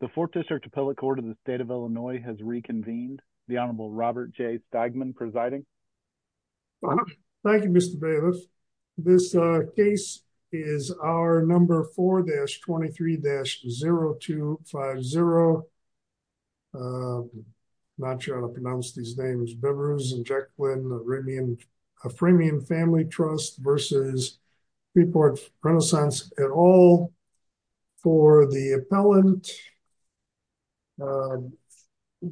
The Fourth District Appellate Court of the State of Illinois has reconvened. The Honorable Robert J. Steigman presiding. Thank you, Mr. Baylis. This case is our number 4-23-0250. Not sure how to pronounce these names. Bevers and Jacqueline Aframian Family Trust v. Freeport Renaissance, LLC.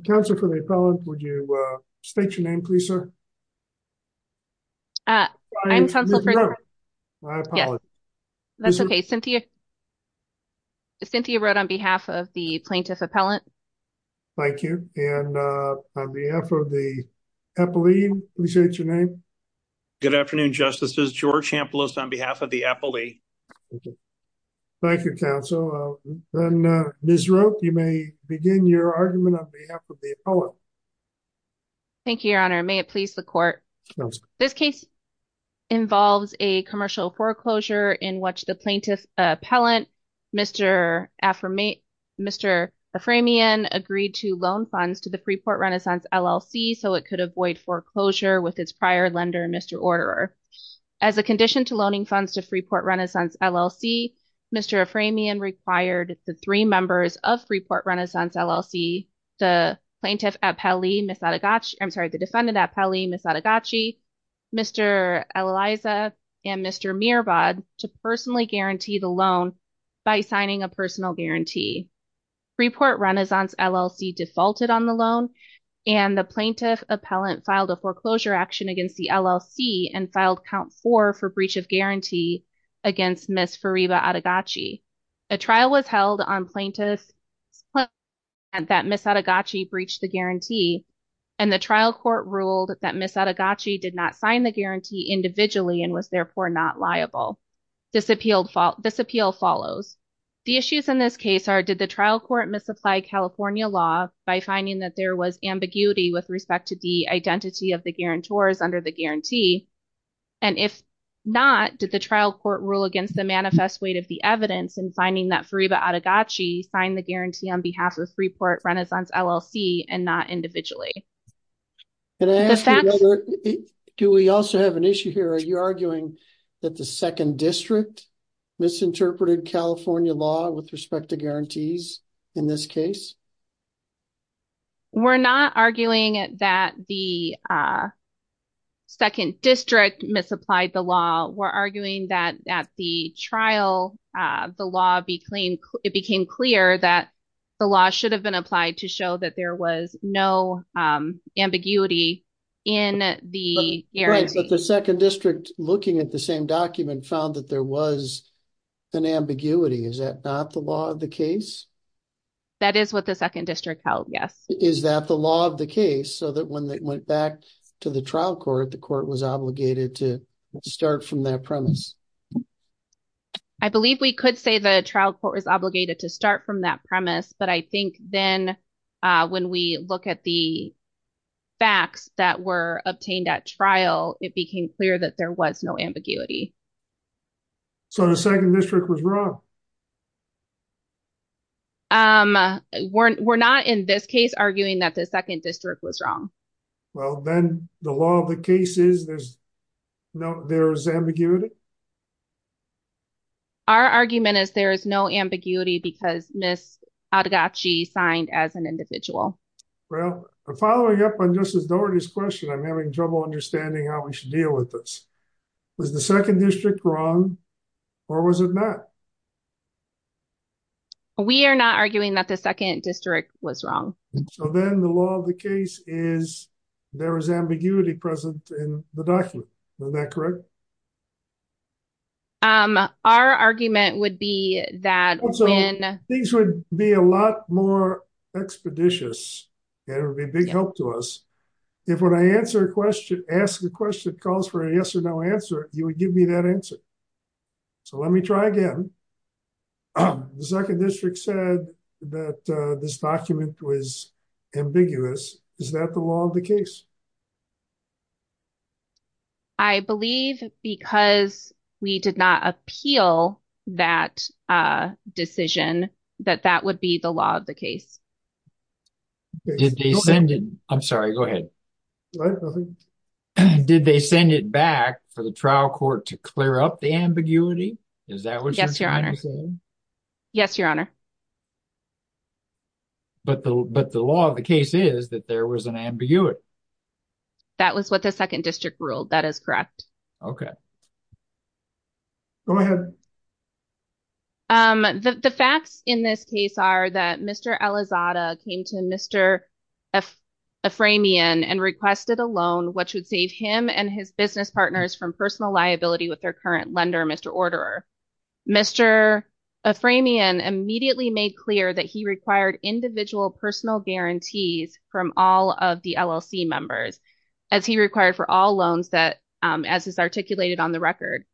Counselor for the appellant, would you state your name, please, sir? I'm Counselor Frederick. I apologize. That's okay. Cynthia wrote on behalf of the plaintiff appellant. Thank you. And on behalf of the appellee, please state your name. Good afternoon, Justices. George Hamplist on behalf of the appellee. Thank you, Counsel. And Ms. Roque, you may begin your argument on behalf of the appellant. Thank you, Your Honor. May it please the Court. This case involves a commercial foreclosure in which the plaintiff appellant, Mr. Aframian, agreed to loan funds to the Freeport Renaissance, LLC, so it could avoid foreclosure with its prior lender, Mr. Orderer. As a condition to loaning funds to Freeport Renaissance, LLC, Mr. Aframian required the three members of Freeport Renaissance, LLC, the plaintiff appellee, Ms. Adegachi, I'm sorry, the defendant appellee, Ms. Adegachi, Mr. Eliza, and Mr. Mirabad to personally guarantee the loan by signing a personal guarantee. Freeport Renaissance, LLC defaulted on the loan and the plaintiff appellant filed a foreclosure action against the LLC and filed count four for breach of guarantee against Ms. Fariba Adegachi. A trial was held on plaintiff's claim that Ms. Adegachi breached the guarantee and the trial court ruled that Ms. Adegachi did not sign the guarantee. This appeal follows. The issues in this case are, did the trial court misapply California law by finding that there was ambiguity with respect to the identity of the guarantors under the guarantee? And if not, did the trial court rule against the manifest weight of the evidence in finding that Fariba Adegachi signed the guarantee on behalf of Freeport Renaissance, LLC and not individually? Can I ask, do we also have an issue here? Are you arguing that the second district misinterpreted California law with respect to guarantees in this case? We're not arguing that the second district misapplied the law. We're arguing that at the trial, the law became clear that the law should have been applied to show that there was no ambiguity in the second district looking at the same document found that there was an ambiguity. Is that not the law of the case? That is what the second district held. Yes. Is that the law of the case so that when they went back to the trial court, the court was obligated to start from that premise? I believe we could say the trial court was obligated to start from that premise. But I think then when we look at the facts that were obtained at trial, it became clear that there was no ambiguity. So the second district was wrong. We're not in this case arguing that the second district was wrong. Well, then the law of the case is there's no, there's ambiguity. Our argument is there is no ambiguity because Miss Adachi signed as an individual. Well, following up on Justice Dougherty's question, I'm having trouble understanding how we should deal with this. Was the second district wrong? Or was it not? We are not arguing that the second district was wrong. So then the law of the case is there is ambiguity present in the document. Is that correct? Um, our argument would be that things would be a lot more expeditious. And it would be a big help to us. If when I answer a question, ask the question calls for a yes or no answer, you would give me that answer. So let me try again. The second district said that this document was ambiguous. Is that the law of the case? I believe, because we did not appeal that decision, that that would be the law of the case. Did they send it? I'm sorry, go ahead. Did they send it back for the trial court to clear up the ambiguity? Is that what you're trying to say? Yes, Your Honor. Yes, Your Honor. But the law of the case is that there was an ambiguity. That was what the second district ruled. That is correct. Okay. Go ahead. The facts in this case are that Mr. Elizada came to Mr. Aframian and requested a loan, which would save him and his business partners from personal liability with their current lender, Mr. Orderer. Mr. Aframian immediately made clear that he required individual personal guarantees from all of the LLC members, as he required for all loans, as is articulated on the record.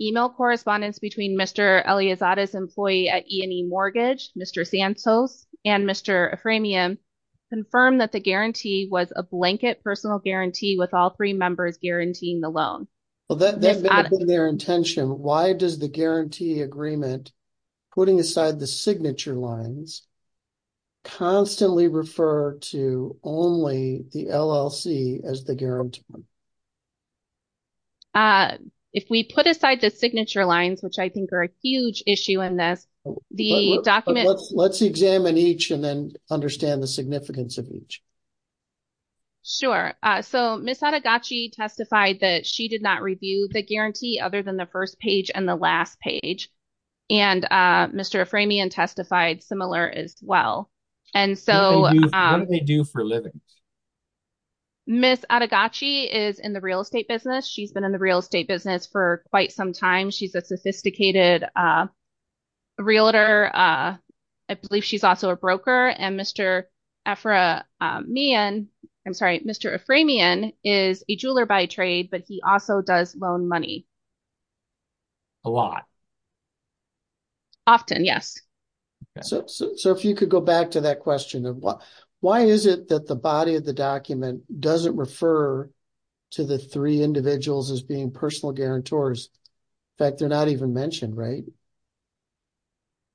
Email correspondence between Mr. Elizada's employee at E&E Mortgage, Mr. Santos, and Mr. Aframian confirmed that the guarantee was a blanket personal guarantee with all three members guaranteeing the loan. Well, that may have been their intention. Why does the guarantee agreement, putting aside the signature lines, constantly refer to only the LLC as the guarantor? If we put aside the signature lines, which I think are a huge issue in this, the document... Let's examine each and then understand the significance of each. Sure. So, Ms. Adegachi testified that she did not review the guarantee other than the first page and the last page. And Mr. Aframian testified similar as well. And so... What do they do for a living? Ms. Adegachi is in the real estate business. She's been in the real estate business for quite some time. She's a sophisticated realtor. I believe she's also a broker. And Mr. Efra man... I'm sorry, Mr. Aframian is a jeweler by trade, but he also does loan money. A lot. Often, yes. So, if you could go back to that question of why is it that the body of the document doesn't refer to the three individuals as being personal guarantors? In fact, they're not even mentioned, right?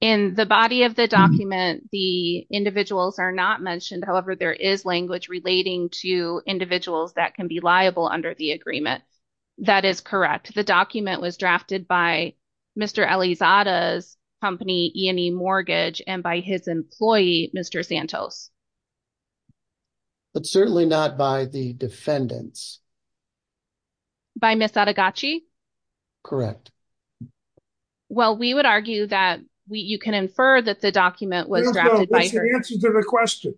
In the body of the document, the individuals are not mentioned. However, there is language relating to individuals that can be liable under the agreement. That is correct. The document was drafted by Mr. Elizada's company, E&E Mortgage, and by his employee, Mr. Santos. But certainly not by the defendants. By Ms. Adegachi? Correct. Well, we would argue that you can infer that the document was drafted by... No, no, that's the answer to the question.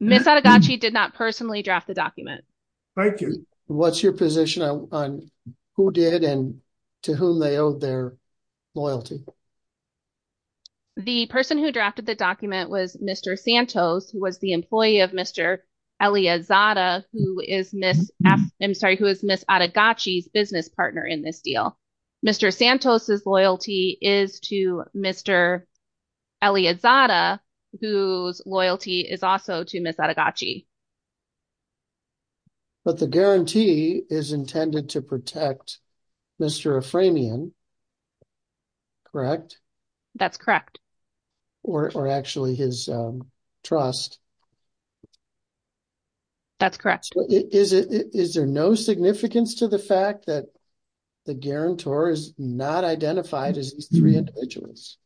Ms. Adegachi did not personally draft the document. Thank you. What's your position on who did and to whom they owed their loyalty? The person who drafted the document was Mr. Santos, who was the employee of Mr. Elizada, who is Ms. Adegachi's business partner in this deal. Mr. Santos' loyalty is to Mr. Elizada, whose loyalty is also to Ms. Adegachi. But the guarantee is intended to protect Mr. Aframian, correct? That's correct. Or actually his trust. That's correct. Is there no significance to the fact that the guarantor is not identified as these three individuals?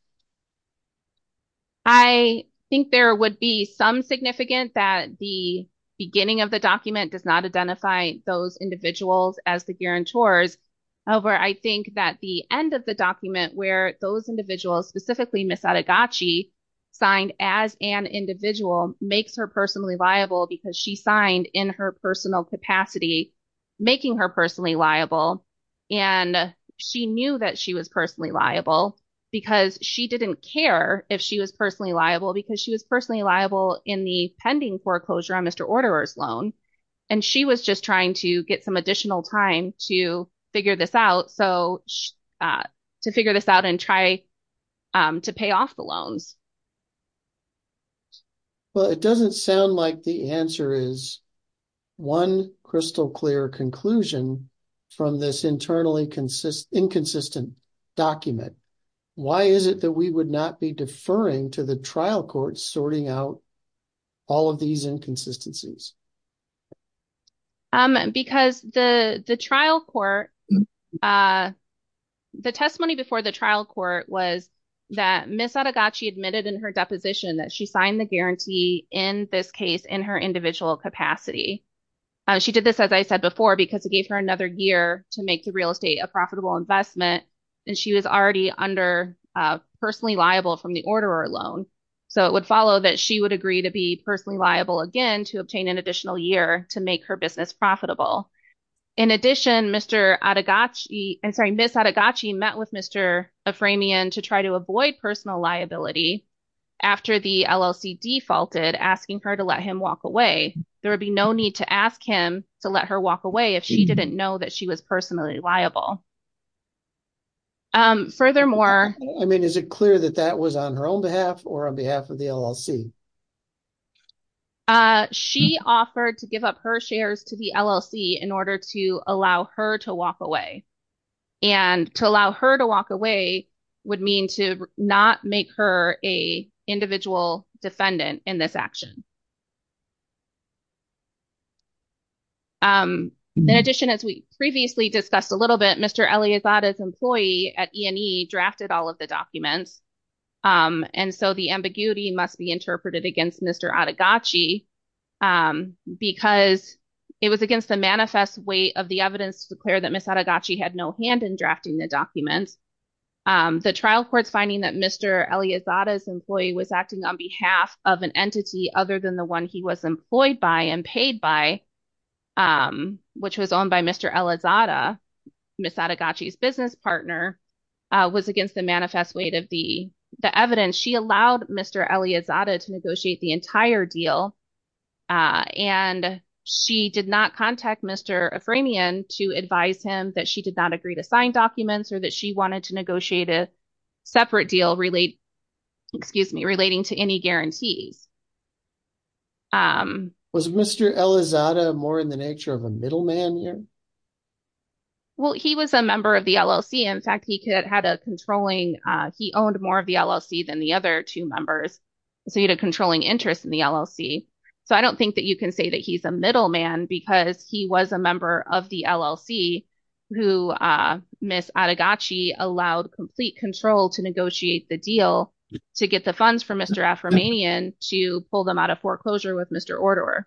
I think there would be some significance that the beginning of the document does not identify those individuals as the guarantors. However, I think that the end of the document where those individuals, specifically Ms. Adegachi, signed as an individual makes her personally liable because she signed in her personal capacity, making her personally liable. And she knew that she was personally liable because she didn't care if she was personally liable because she was personally liable in the pending foreclosure on Mr. Orderer's loan. And she was just trying to get some additional time to figure this out. So, to figure this out and try to pay off the loans. Well, it doesn't sound like the answer is one crystal clear conclusion from this internally inconsistent document. Why is it that we would not be deferring to the trial court sorting out all of these inconsistencies? Because the trial court, the testimony before the trial court was that Ms. Adegachi admitted in her deposition that she signed the guarantee in this case in her individual capacity. She did this, as I said before, because it gave her another year to make the real estate a profitable investment. And she was already under personally liable from the Orderer loan. So, it would follow that she would agree to be personally liable again to obtain an additional year to make her business profitable. In addition, Ms. Adegachi met with Mr. Aframian to try to avoid personal liability after the LLC defaulted, asking her to let him walk away. There would be no need to ask him to let her walk away if she didn't know that she was personally liable. Furthermore, I mean, is it clear that that was on her own behalf or on behalf of the LLC? She offered to give up her shares to the LLC in order to allow her to walk away. And to allow her to walk away would mean to not make her a individual defendant in this action. In addition, as we previously discussed a little bit, Mr. Elizabeth's employee at E&E against Mr. Adegachi because it was against the manifest weight of the evidence to declare that Ms. Adegachi had no hand in drafting the documents. The trial court's finding that Mr. Elizabeth's employee was acting on behalf of an entity other than the one he was employed by and paid by, which was owned by Mr. Elizabeth, Ms. Adegachi's business partner, was against the manifest weight of the evidence. She allowed Mr. Elizabeth to negotiate the entire deal. And she did not contact Mr. Aframian to advise him that she did not agree to sign documents or that she wanted to negotiate a separate deal relating to any guarantees. Was Mr. Elizabeth more in the nature of a middleman here? Well, he was a member of the LLC. In fact, he owned more of the LLC than the other two members. So, he had a controlling interest in the LLC. So, I don't think that you can say that he's a middleman because he was a member of the LLC who Ms. Adegachi allowed complete control to negotiate the deal to get the funds from Mr. Aframian to pull them out of foreclosure with Mr. Elizabeth.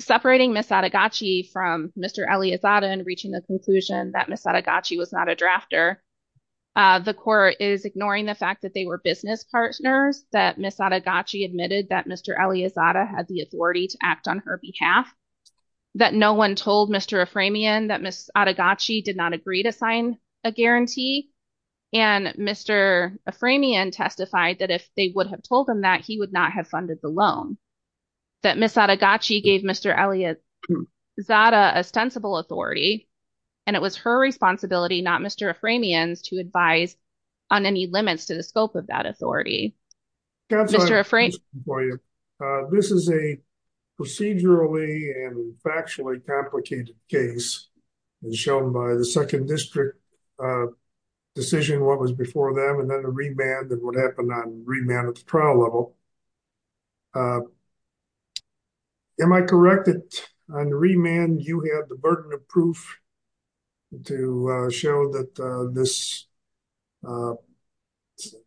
Separating Ms. Adegachi from Mr. Elizabeth and reaching the conclusion that Ms. Adegachi was not a drafter, the court is ignoring the fact that they were business partners, that Ms. Adegachi admitted that Mr. Elizabeth had the authority to act on her behalf, that no one told Mr. Aframian that Ms. Adegachi did not agree to sign a guarantee, and Mr. Aframian testified that if they would have told him that, he would not have funded the loan, that Ms. Adegachi gave Mr. Elizabeth ostensible authority, and it was her responsibility, not Mr. Aframian's, to advise on any limits to the scope of that authority. This is a procedurally and factually complicated case, shown by the second district decision, what was before them, and then the remand and what happened on remand at the trial level. Am I correct that on remand, you had the burden of proof to show that this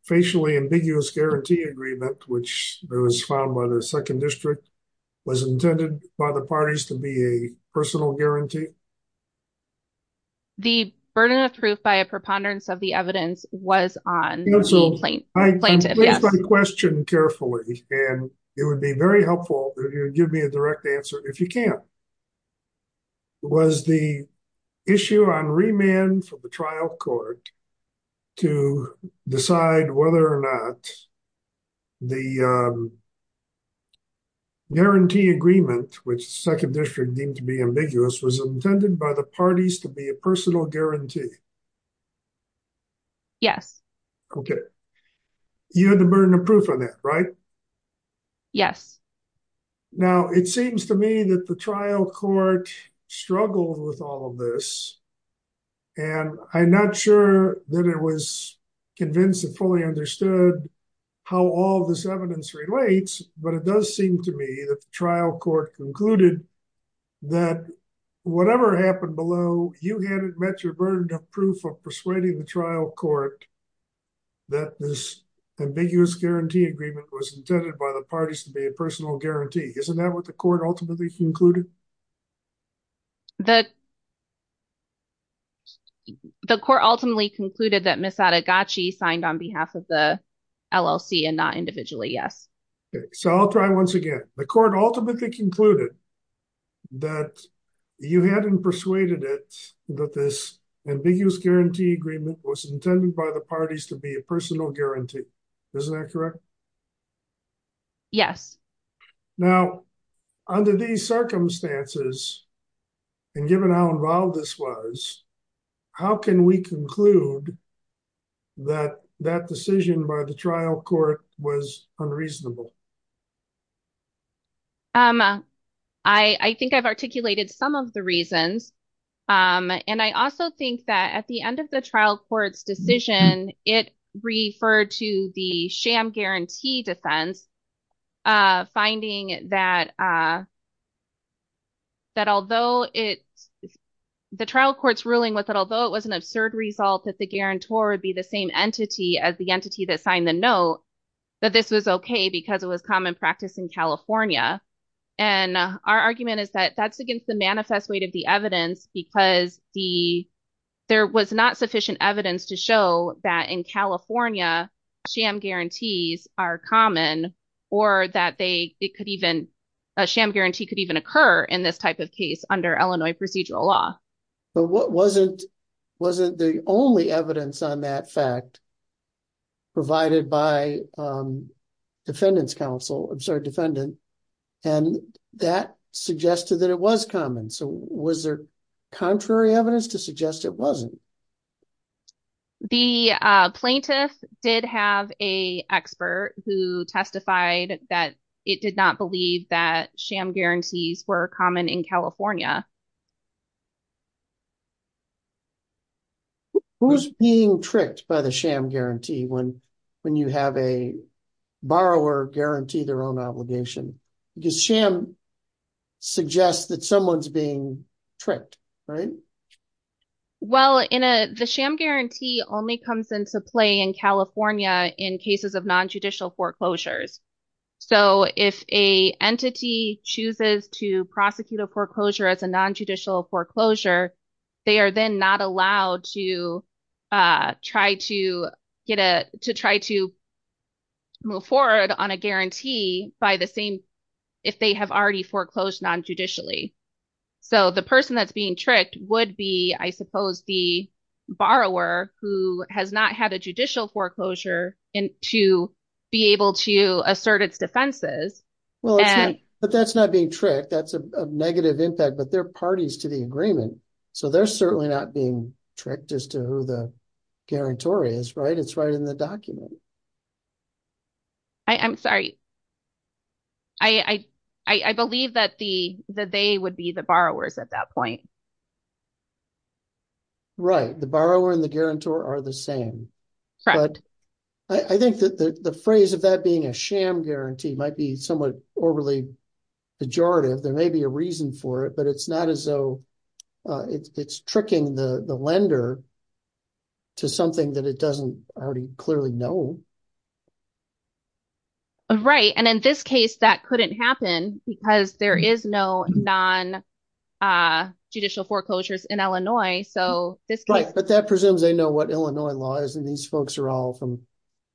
facially ambiguous guarantee agreement, which was filed by the second district, was intended by the parties to be a personal guarantee? The burden of proof by a preponderance of the evidence was on the plaintiff. I'm pleased by the question carefully, and it would be very helpful if you would give me a direct answer, if you can. Was the issue on remand for the trial court to decide whether or not the guarantee agreement, which the second district deemed to be ambiguous, was intended by the parties to be a personal guarantee? Yes. Okay. You had the burden of proof on that, right? Yes. Now, it seems to me that the trial court struggled with all of this, and I'm not sure that it was convinced and fully understood how all this evidence relates, but it does seem to me that the trial court concluded that whatever happened below, you had met your burden of proof of persuading the trial court that this ambiguous guarantee agreement was intended by the parties to be a personal guarantee. Isn't that what the court ultimately concluded? The court ultimately concluded that Ms. Adegachi signed on behalf of the LLC and not individually, yes. Okay. So, I'll try once again. The court ultimately concluded that you hadn't persuaded it that this ambiguous guarantee agreement was intended by the parties to be a personal guarantee. Isn't that correct? Yes. Now, under these circumstances, and given how involved this was, how can we conclude that that decision by the trial court was unreasonable? I think I've articulated some of the reasons, and I also think that at the end of the trial court's decision, it referred to the sham guarantee defense finding that the trial court's ruling was that although it was an absurd result that the guarantor would be the same entity as the entity that signed the note, that this was okay because it was common practice in California. And our argument is that that's against the manifest weight of the evidence because there was not sufficient evidence to show that in California, sham guarantees are common or that a sham guarantee could even occur in this type of case under Illinois procedural law. But wasn't the only evidence on that fact provided by defendant's counsel, I'm sorry, defendant, and that suggested that it was common. So was there contrary evidence to suggest it wasn't? The plaintiff did have a expert who testified that it did not believe that sham guarantees were common in California. Who's being tricked by the sham guarantee when you have a borrower guarantee their own obligation? Because sham suggests that someone's being tricked, right? Well, the sham guarantee only comes into play in California in cases of non-judicial foreclosures. So if a entity chooses to prosecute a foreclosure as a non-judicial foreclosure, they are then not allowed to try to move forward on a guarantee by the same, if they have already foreclosed non-judicially. So the person that's being tricked would be, I suppose, the borrower who has not had a judicial foreclosure to be able to assert its defenses. But that's not being tricked. That's a negative impact, but they're parties to the agreement. So they're certainly not being tricked as to who the guarantor is, right? It's right in the document. I'm sorry. I believe that they would be the borrowers at that point. Right. The borrower and the guarantor are the same. But I think that the phrase of that being a sham guarantee might be somewhat overly pejorative. There may be a reason for it, but it's not as though it's tricking the lender to something that it doesn't already clearly know. Right. And in this case, that couldn't happen because there is no non-judicial foreclosures in Illinois. But that presumes they know what Illinois law is and these folks are all from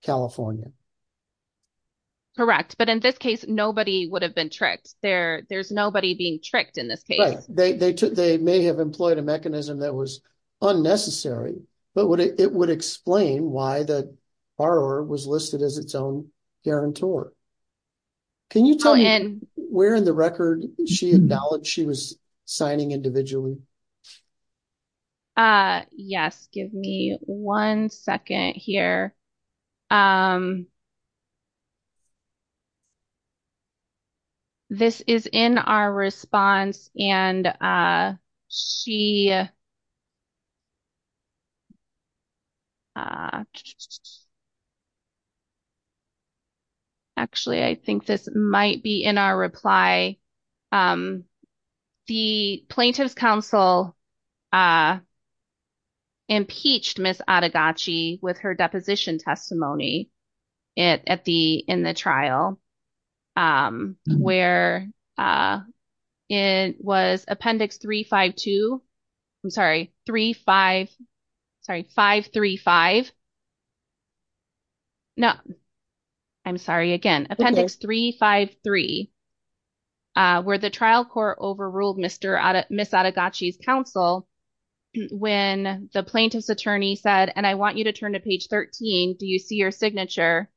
California. Correct. But in this case, nobody would have been tricked. There's nobody being tricked in this case. They may have employed a mechanism that was unnecessary, but it would explain why the borrower was listed as its own guarantor. Can you tell me where in the record she acknowledged she was signing individually? Yes. Give me one second here. This is in our response and she... Actually, I think this might be in our reply. The Plaintiff's Council impeached Ms. Adegaci with her deposition testimony in the trial where it was Appendix 352. I'm sorry, 35... Sorry, 535. No, I'm sorry. Again, Appendix 353, where the trial court overruled Ms. Adegaci's counsel when the plaintiff's attorney said, and I want you to turn to page 13. Do you see your signature?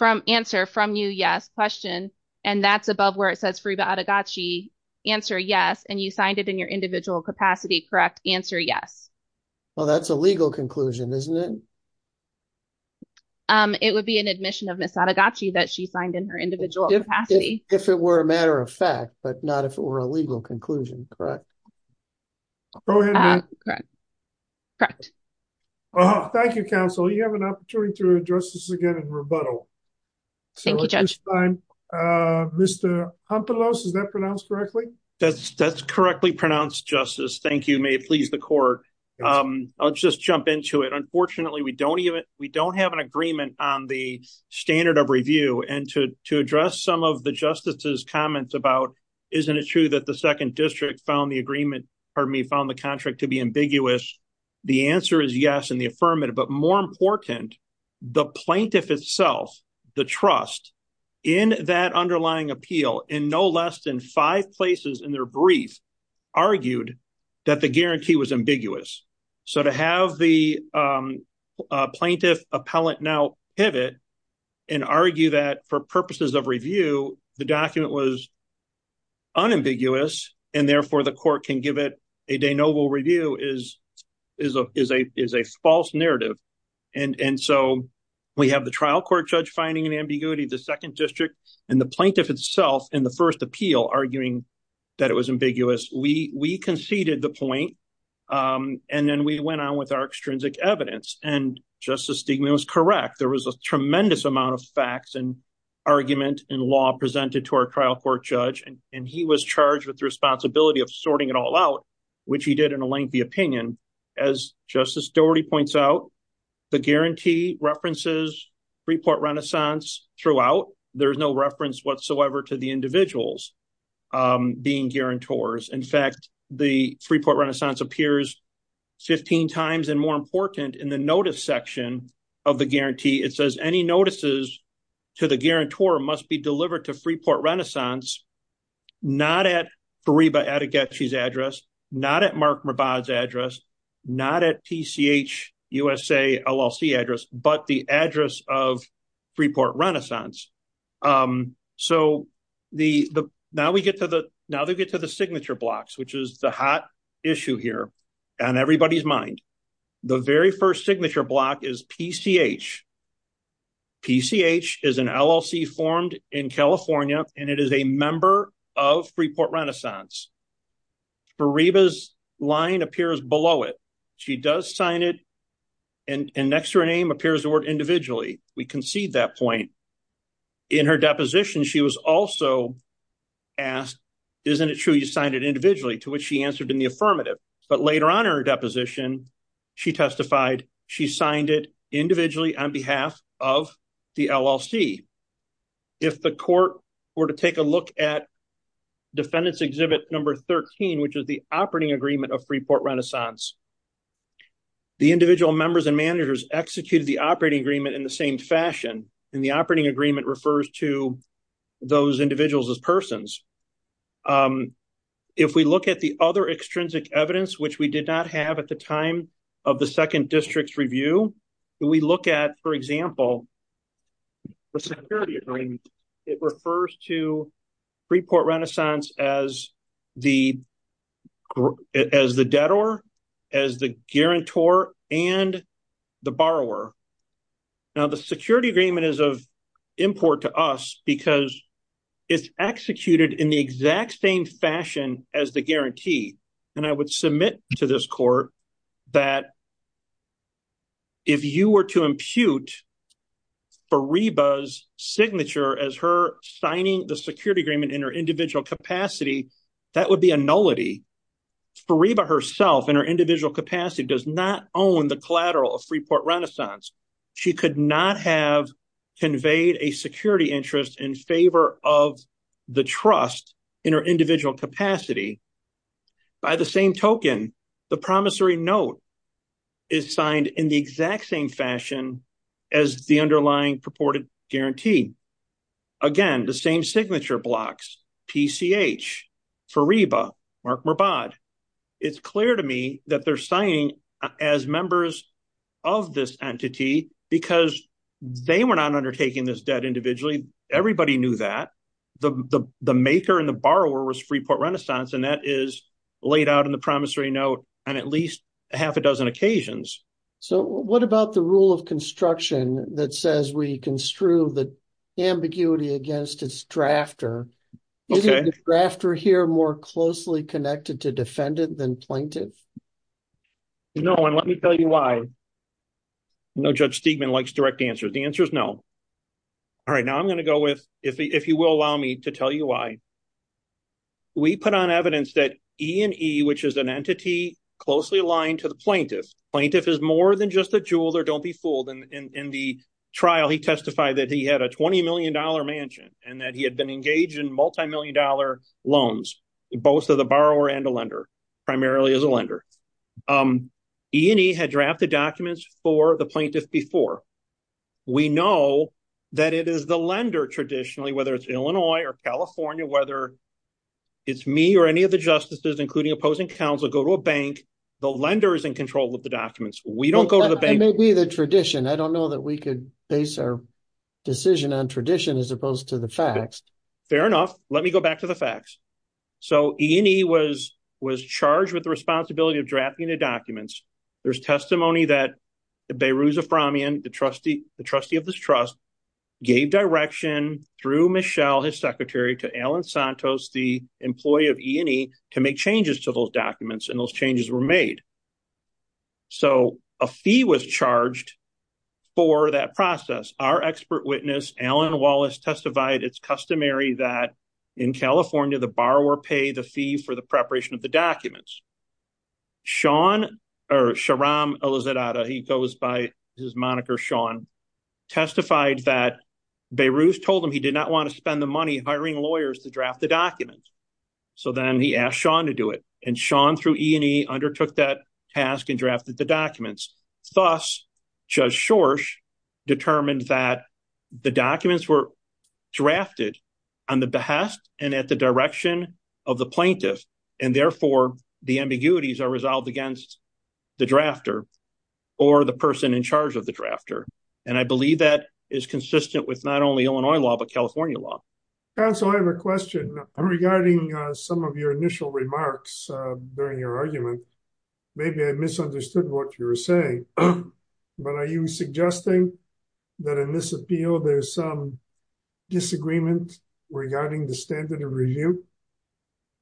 Answer, from you, yes. Question. And that's above where it says Fariba Adegaci. Answer, yes. And you signed it in your individual capacity, correct? Answer, yes. Well, that's a legal conclusion, isn't it? It would be an admission of Ms. Adegaci that she signed in her individual capacity. If it were a matter of fact, but not if it were a legal conclusion, correct? Go ahead, ma'am. Correct. Thank you, counsel. You have an opportunity to address this again in rebuttal. Thank you, Judge. So at this time, Mr. Justice, thank you. May it please the court. I'll just jump into it. Unfortunately, we don't have an agreement on the standard of review. And to address some of the justices' comments about, isn't it true that the second district found the agreement, pardon me, found the contract to be ambiguous? The answer is yes, in the affirmative. But more important, the plaintiff itself, the trust, in that underlying appeal, in no less than five places in their brief, argued that the guarantee was ambiguous. So to have the plaintiff appellant now pivot and argue that for purposes of review, the document was unambiguous, and therefore the trial court judge finding an ambiguity, the second district, and the plaintiff itself in the first appeal arguing that it was ambiguous. We conceded the point. And then we went on with our extrinsic evidence. And Justice Stigman was correct. There was a tremendous amount of facts and argument and law presented to our trial court judge. And he was charged with the responsibility of sorting it all out, which he did in a lengthy opinion. As Justice Dougherty points out, the guarantee references Freeport Renaissance throughout. There's no reference whatsoever to the individuals being guarantors. In fact, the Freeport Renaissance appears 15 times and more important in the notice section of the guarantee. It says any notices to the guarantor must be delivered to Freeport Renaissance, not at Fariba Adegechi's address, not at Mark Mabad's address, not at PCH USA LLC address, but the address of Freeport Renaissance. So now we get to the signature blocks, which is the hot issue here on everybody's mind. The very first signature block is PCH. PCH is an LLC formed in California, and it is a member of Freeport Renaissance. Fariba's line appears below it. She does sign it, and next to her name appears the word individually. We concede that point. In her deposition, she was also asked, isn't it true you signed it individually, to which she answered in the affirmative. But later on her deposition, she testified she signed it individually on behalf of the LLC. If the court were to take a look at number 13, which is the operating agreement of Freeport Renaissance, the individual members and managers executed the operating agreement in the same fashion, and the operating agreement refers to those individuals as persons. If we look at the other extrinsic evidence, which we did not have at the time of the second district's review, we look at, for example, the security agreement. It refers to Freeport Renaissance as the debtor, as the guarantor, and the borrower. Now the security agreement is of import to us because it's executed in the exact same fashion as the guarantee, and I would submit to this court that if you were to impute Fariba's signature as her signing the security agreement in her individual capacity, that would be a nullity. Fariba herself, in her individual capacity, does not own the collateral of Freeport Renaissance. She could not have conveyed a security interest in favor of the trust in her individual capacity. By the same token, the promissory note is signed in the exact same fashion as the underlying purported guarantee. Again, the same signature blocks, PCH, Fariba, Mark Merbad. It's clear to me that they're signing as members of this entity because they were not undertaking this debt individually. Everybody knew that. The maker and the borrower was Freeport Renaissance, and that is laid out in the promissory note on at least half a dozen occasions. So what about the rule of construction that says we construe the ambiguity against its drafter? Is the drafter here more closely connected to defendant than plaintiff? No, and let me tell you why. No, Judge Steigman likes direct answers. The answer is no. All right, now I'm going to go with, if you will allow me to tell you why. We put on evidence that E&E, which is an entity closely aligned to the plaintiff, plaintiff is more than just a jeweler. Don't be fooled. In the trial, he testified that he had a $20 million mansion and that he had been engaged in multimillion dollar loans, both to the borrower and the lender, primarily as a lender. E&E had drafted documents for the plaintiff before. We know that it is the it's me or any of the justices, including opposing counsel, go to a bank. The lender is in control of the documents. We don't go to the bank. It may be the tradition. I don't know that we could base our decision on tradition as opposed to the facts. Fair enough. Let me go back to the facts. So E&E was charged with the responsibility of drafting the documents. There's testimony that Behrouz Aframian, the trustee of this trust, gave direction through Michelle, his secretary, to Alan Santos, the employee of E&E, to make changes to those documents, and those changes were made. So a fee was charged for that process. Our expert witness, Alan Wallace, testified it's customary that in California, the borrower pay the fee for the preparation of the documents. Sean or Sharam Elizaddeh, he goes by his moniker Sean, testified that Behrouz told him he did not to spend the money hiring lawyers to draft the documents. So then he asked Sean to do it, and Sean, through E&E, undertook that task and drafted the documents. Thus, Judge Schorsch determined that the documents were drafted on the behest and at the direction of the plaintiff, and therefore, the ambiguities are resolved against the drafter or the person in charge of the drafter. And I believe that is consistent with not only Illinois law, but California law. Counsel, I have a question regarding some of your initial remarks during your argument. Maybe I misunderstood what you were saying, but are you suggesting that in this appeal, there's some disagreement regarding the standard of review?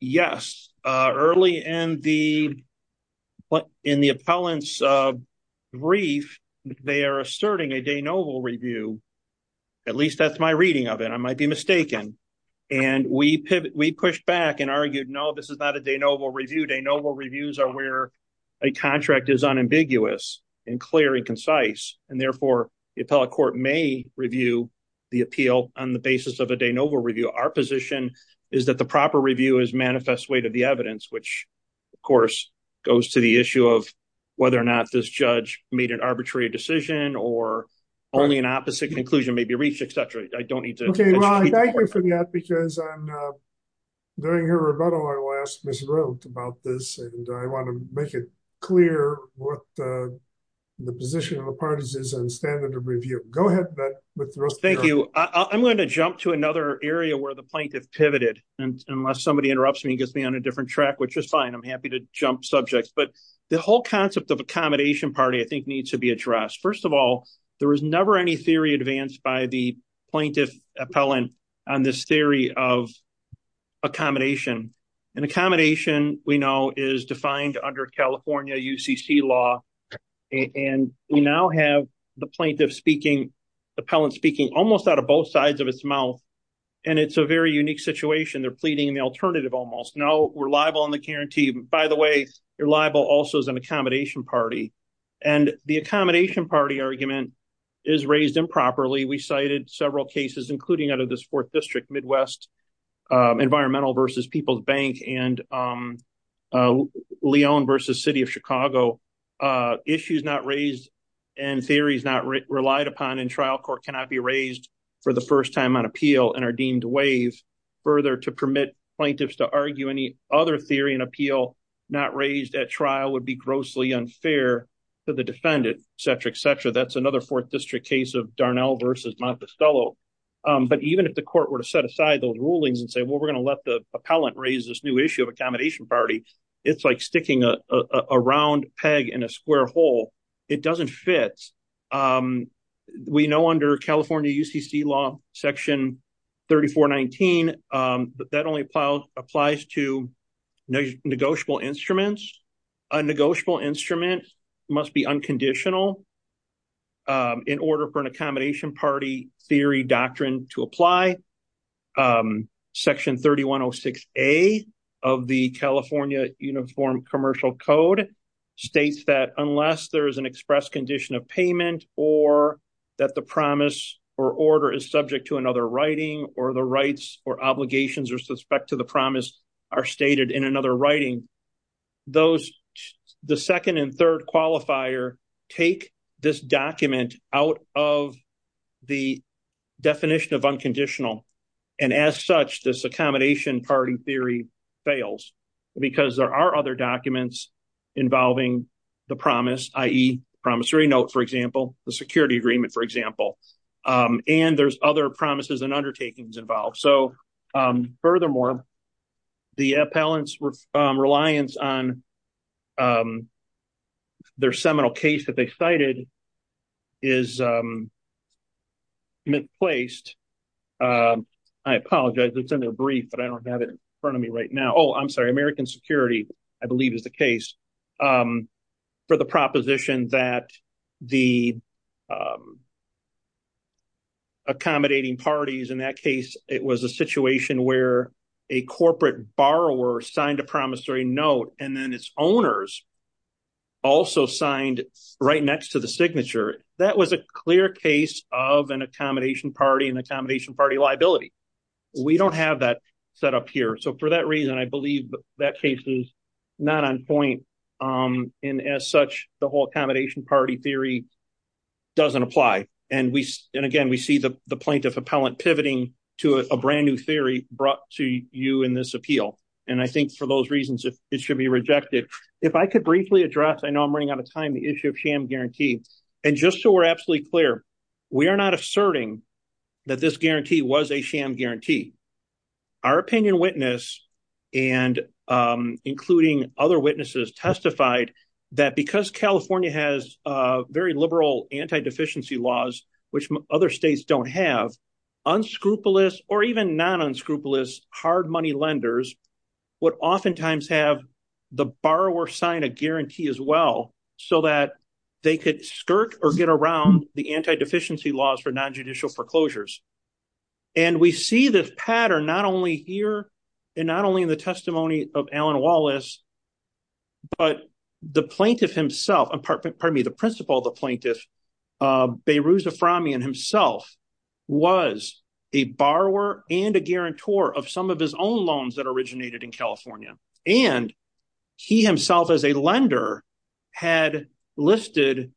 Yes. Early in the appellant's brief, they are asserting a de novo review. At least that's my reading of it. I might be mistaken. And we pushed back and argued, no, this is not a de novo review. De novo reviews are where a contract is unambiguous and clear and concise, and therefore, the appellate court may review the appeal on the basis that the proper review is manifest way to the evidence, which, of course, goes to the issue of whether or not this judge made an arbitrary decision or only an opposite conclusion may be reached, et cetera. I don't need to... Okay. Well, thank you for that because during your rebuttal, I last miswrote about this, and I want to make it clear what the position of appellants is on standard of review. Go ahead, but... Thank you. I'm going to jump to another area where the plaintiff pivoted. And unless somebody interrupts me and gets me on a different track, which is fine, I'm happy to jump subjects. But the whole concept of accommodation party, I think, needs to be addressed. First of all, there was never any theory advanced by the plaintiff appellant on this theory of accommodation. And accommodation, we know, is defined under California UCC law. And we now have the plaintiff speaking, appellant speaking, almost out of both sides of its mouth. And it's a very unique situation. They're pleading the alternative almost. No, we're liable on the guarantee. By the way, you're liable also as an accommodation party. And the accommodation party argument is raised improperly. We cited several cases, including out of this fourth district, Midwest Environmental versus People's Bank and Leon versus City of Chicago, issues not raised and theories not relied upon in trial court cannot be raised for the first time on appeal and are deemed to waive further to permit plaintiffs to argue any other theory and appeal not raised at trial would be grossly unfair to the defendant, et cetera, et cetera. That's another fourth district case of Darnell versus Monticello. But even if the court were to set aside those rulings and say, well, we're going to let the appellant raise this new issue of accommodation party, it's like sticking a round peg in a square hole. It doesn't fit. We know under California UCC law, Section 3419, that only applies to negotiable instruments. A negotiable instrument must be unconditional in order for an accommodation party theory doctrine to apply. Section 3106A of the California Uniform Commercial Code states that unless there is an express condition of payment or that the promise or order is subject to another writing or the rights or obligations or suspect to the promise are stated in another writing, the second and third qualifier take this document out of the definition of unconditional. And as such, this accommodation party theory fails because there are other documents involving the promise, i.e. promissory note, for example, the security agreement, for example. And there's other promises and undertakings involved. So, furthermore, the appellant's reliance on their seminal case that they cited is misplaced. I apologize. It's in their brief, but I don't have it in front of me right now. Oh, I'm sorry. American Security, I believe, is the case for the proposition that the accommodating parties in that case, it was a situation where a corporate borrower signed a promissory note and then its owners also signed right next to the signature. That was a clear case of an accommodation party and accommodation party liability. We don't have that set up here. So, for that reason, I believe that case is not on point. And as such, the whole accommodation party theory doesn't apply. And again, we see the plaintiff appellant pivoting to a brand new theory brought to you in this appeal. And I think for those reasons, it should be rejected. If I could briefly address, I know I'm running out of time, the issue of sham guarantee. And just so we're absolutely clear, we are not asserting that this guarantee was a sham guarantee. Our opinion witness, including other witnesses, testified that because California has very liberal anti-deficiency laws, which other states don't have, unscrupulous or even non-unscrupulous hard money lenders would oftentimes have the borrower sign a guarantee as well so that they could skirt or get around the anti-deficiency laws for non-judicial foreclosures. And we see this pattern not only here and not only in the testimony of was a borrower and a guarantor of some of his own loans that originated in California. And he himself as a lender had listed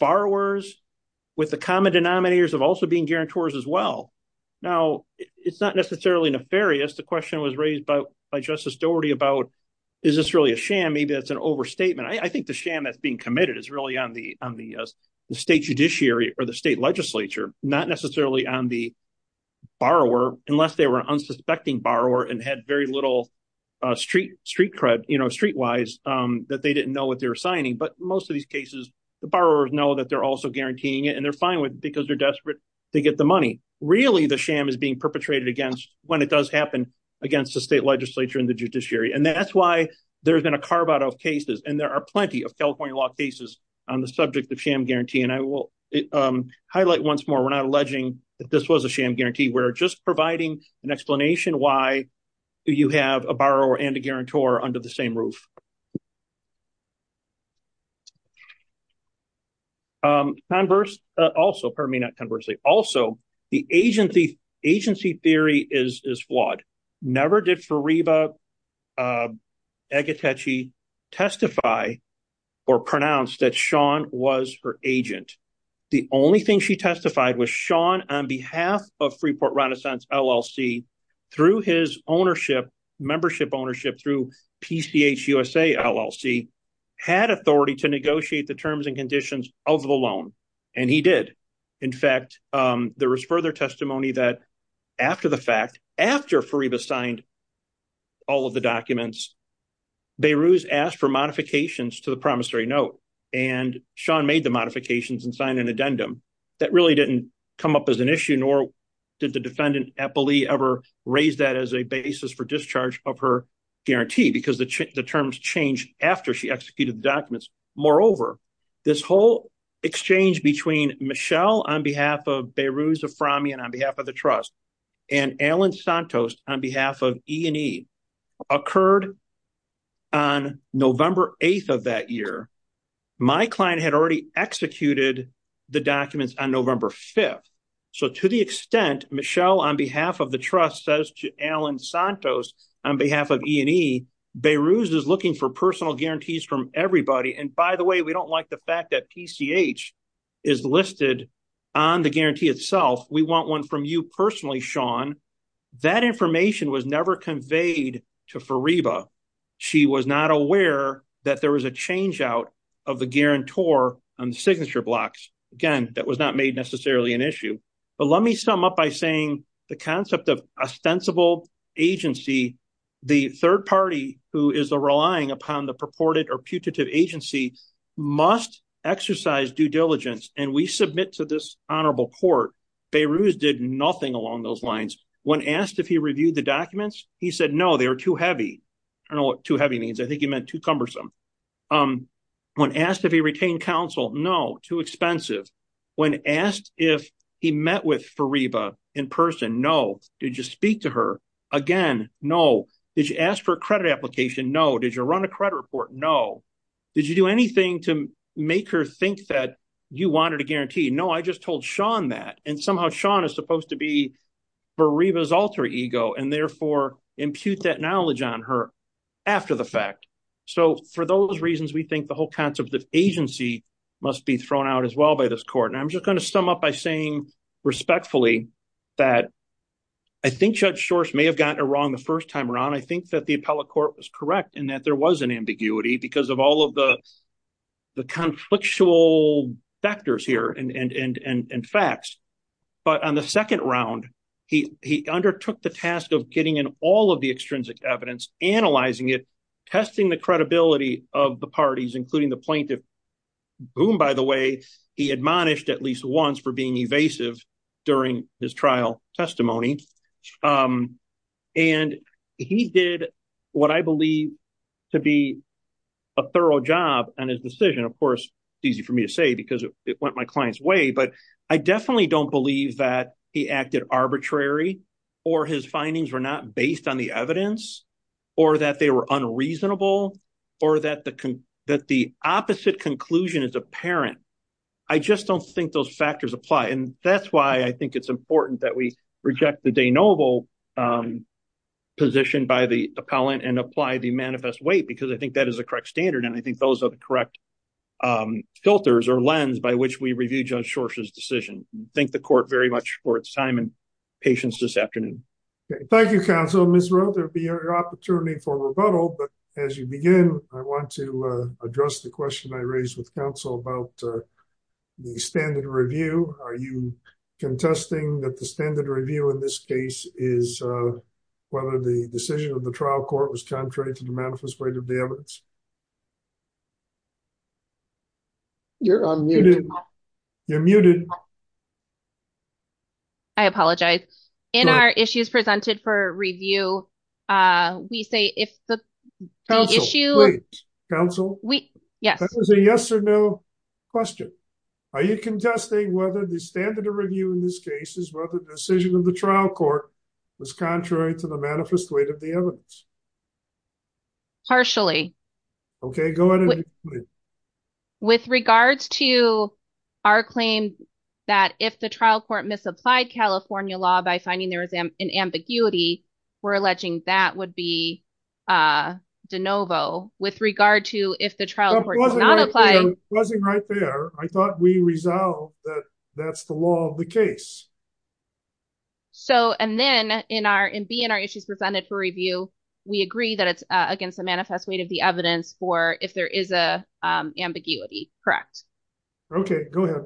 borrowers with the common denominators of also being guarantors as well. Now, it's not necessarily nefarious. The question was raised by Justice Doherty about, is this really a sham? Maybe that's an overstatement. I think the sham that's being on the borrower, unless they were an unsuspecting borrower and had very little street cred, street wise, that they didn't know what they were signing. But most of these cases, the borrowers know that they're also guaranteeing it and they're fine with it because they're desperate to get the money. Really, the sham is being perpetrated against when it does happen against the state legislature and the judiciary. And that's why there's been a carve out of cases and there are plenty of California law cases on the subject of sham guarantee. And I will that this was a sham guarantee. We're just providing an explanation why you have a borrower and a guarantor under the same roof. Also, pardon me, not conversely. Also, the agency theory is flawed. Never did Fariba Agatechi testify or pronounce that Sean was her agent. The only thing she testified was Sean on behalf of Freeport Renaissance LLC, through his ownership, membership ownership through PCHUSA LLC, had authority to negotiate the terms and conditions of the loan. And he did. In fact, there was further testimony that after the fact, after Fariba signed all of the documents, Behrouz asked for modifications to the promissory note. And Sean made the modifications and signed an addendum that really didn't come up as an issue, nor did the defendant ever raise that as a basis for discharge of her guarantee because the terms changed after she executed the documents. Moreover, this whole exchange between Michelle on behalf of Behrouz Aframi and on behalf of the trust and Alan Santos on behalf of E&E occurred on November 8th of that year. My client had already executed the documents on November 5th. So to the extent Michelle on behalf of the trust says to Alan Santos on behalf of E&E, Behrouz is looking for personal guarantees from everybody. And by the way, we don't like the fact that PCH is listed on the guarantee itself. We want one from you personally, Sean. That information was never conveyed to Fariba. She was not aware that there was a change out of the guarantor on the signature blocks. Again, that was not made necessarily an issue. But let me sum up by saying the concept of ostensible agency, the third party who is relying upon the purported or putative agency must exercise due diligence. And we submit to this honorable court, Behrouz did nothing along those lines. When asked if he reviewed the documents, he said, no, they were too heavy. I don't know what too heavy means. I think he meant too cumbersome. When asked if he retained counsel, no, too expensive. When asked if he met with Fariba in person, no. Did you speak to her? Again, no. Did you ask for a credit application? No. Did you run a credit report? No. Did you do anything to make her think that you wanted a guarantee? No, I just told Sean that. And somehow Sean is supposed to be Fariba's alter ego and therefore impute that knowledge on her after the fact. So for those reasons, we think the whole concept of agency must be thrown out as well by this court. And I'm just going to sum up by saying respectfully that I think Judge Shorst may have gotten it wrong the first time around. I think that the appellate court was correct in that there was an ambiguity because of all of the conflictual factors here and facts. But on the second round, he undertook the task of getting all of the extrinsic evidence, analyzing it, testing the credibility of the parties, including the plaintiff, whom, by the way, he admonished at least once for being evasive during his trial testimony. And he did what I believe to be a thorough job on his decision. Of course, it's easy for me to say because it went my client's way, but I definitely don't that he acted arbitrary or his findings were not based on the evidence or that they were unreasonable or that the opposite conclusion is apparent. I just don't think those factors apply. And that's why I think it's important that we reject the de novo position by the appellant and apply the manifest weight because I think that is a correct standard. And I think those are the correct filters or lens by which we review Judge Schorsch's decision. Thank the court very much for its time and patience this afternoon. Thank you, counsel. Ms. Roe, there will be your opportunity for rebuttal. But as you begin, I want to address the question I raised with counsel about the standard review. Are you contesting that the standard review in this case is whether the decision of the trial court was contrary to the manifest weight of the evidence? You're unmuted. You're muted. I apologize. In our issues presented for review, we say if the issue... Counsel? Yes. That was a yes or no question. Are you contesting whether the standard review in this case is whether the decision of the trial court was contrary to the manifest weight of the evidence? Partially. Okay, go ahead. With regards to our claim that if the trial court misapplied California law by finding there was an ambiguity, we're alleging that would be de novo. With regard to if the trial court did not apply... It wasn't right there. I thought we resolved that that's the law of the case. So, and then in our... And being our issues presented for review, we agree that it's against the manifest weight of the evidence for if there is a ambiguity, correct? Okay, go ahead.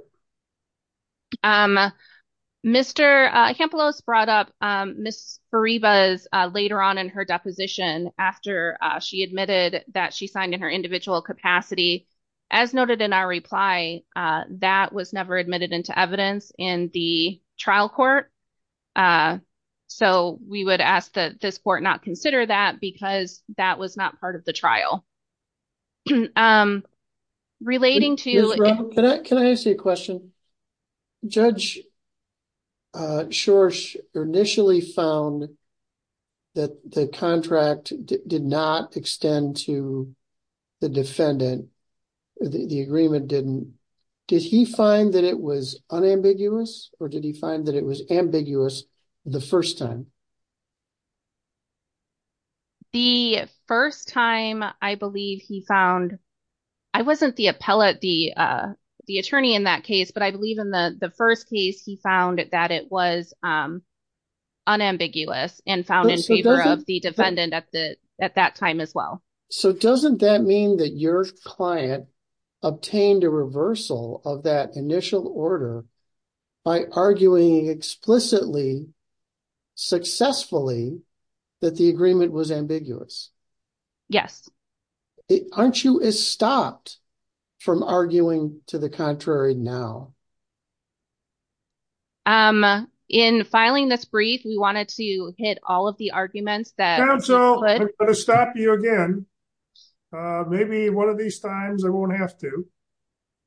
Mr. Campelos brought up Ms. Fariba's later on in her deposition after she admitted that she signed in her individual capacity. As noted in our reply, that was never admitted into evidence in the trial court. So, we would ask that this court not consider that because that was not part of the trial. Relating to... Can I ask you a question? Judge Schorsch initially found that the contract did not extend to the defendant. The agreement didn't. Did he find that it was ambiguous or did he find that it was ambiguous the first time? The first time I believe he found... I wasn't the appellate, the attorney in that case, but I believe in the first case he found that it was unambiguous and found in favor of the defendant at that time as well. So, doesn't that mean that your client obtained a reversal of that initial order by arguing explicitly, successfully, that the agreement was ambiguous? Yes. Aren't you stopped from arguing to the contrary now? In filing this brief, we wanted to hit all of the arguments that... I'm going to stop you again. Maybe one of these times I won't have to.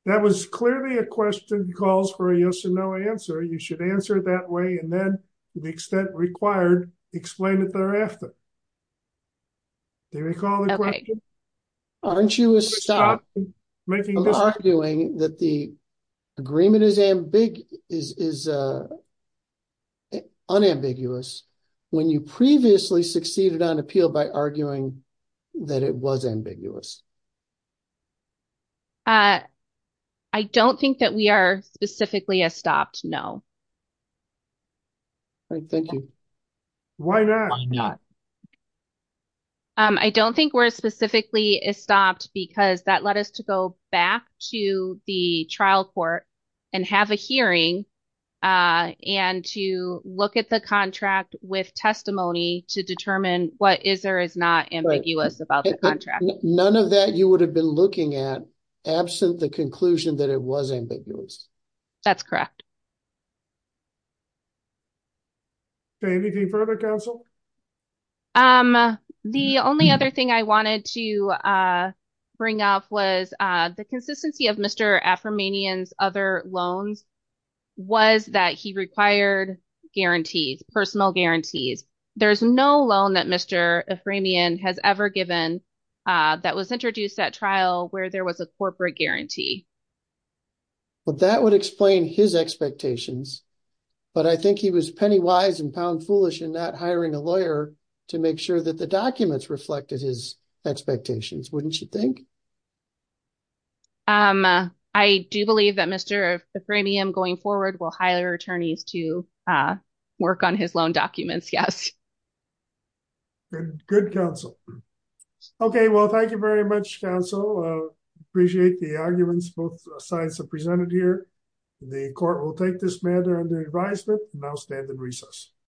That was clearly a question calls for a yes or no answer. You should answer it that way and then to the extent required, explain it thereafter. Do you recall the question? Aren't you stopped from arguing that the by arguing that it was ambiguous? I don't think that we are specifically stopped. No. Thank you. Why not? I don't think we're specifically stopped because that led us to go back to the trial court and have a hearing and to look at the contract with testimony to determine what is or is not ambiguous about the contract. None of that you would have been looking at absent the conclusion that it was ambiguous. That's correct. Anything further, counsel? The only other thing I wanted to bring up was the consistency of Mr. Aframanian's other loans was that he required guarantees, personal guarantees. There's no loan that Mr. Aframian has ever given that was introduced at trial where there was a corporate guarantee. That would explain his expectations, but I think he was penny wise and pound foolish in not hiring a lawyer to make sure that the documents reflected his beliefs. I do believe that Mr. Aframian going forward will hire attorneys to work on his loan documents. Yes. Good counsel. Okay. Well, thank you very much, counsel. Appreciate the arguments both sides have presented here. The court will take this matter under advisement and now stand in recess.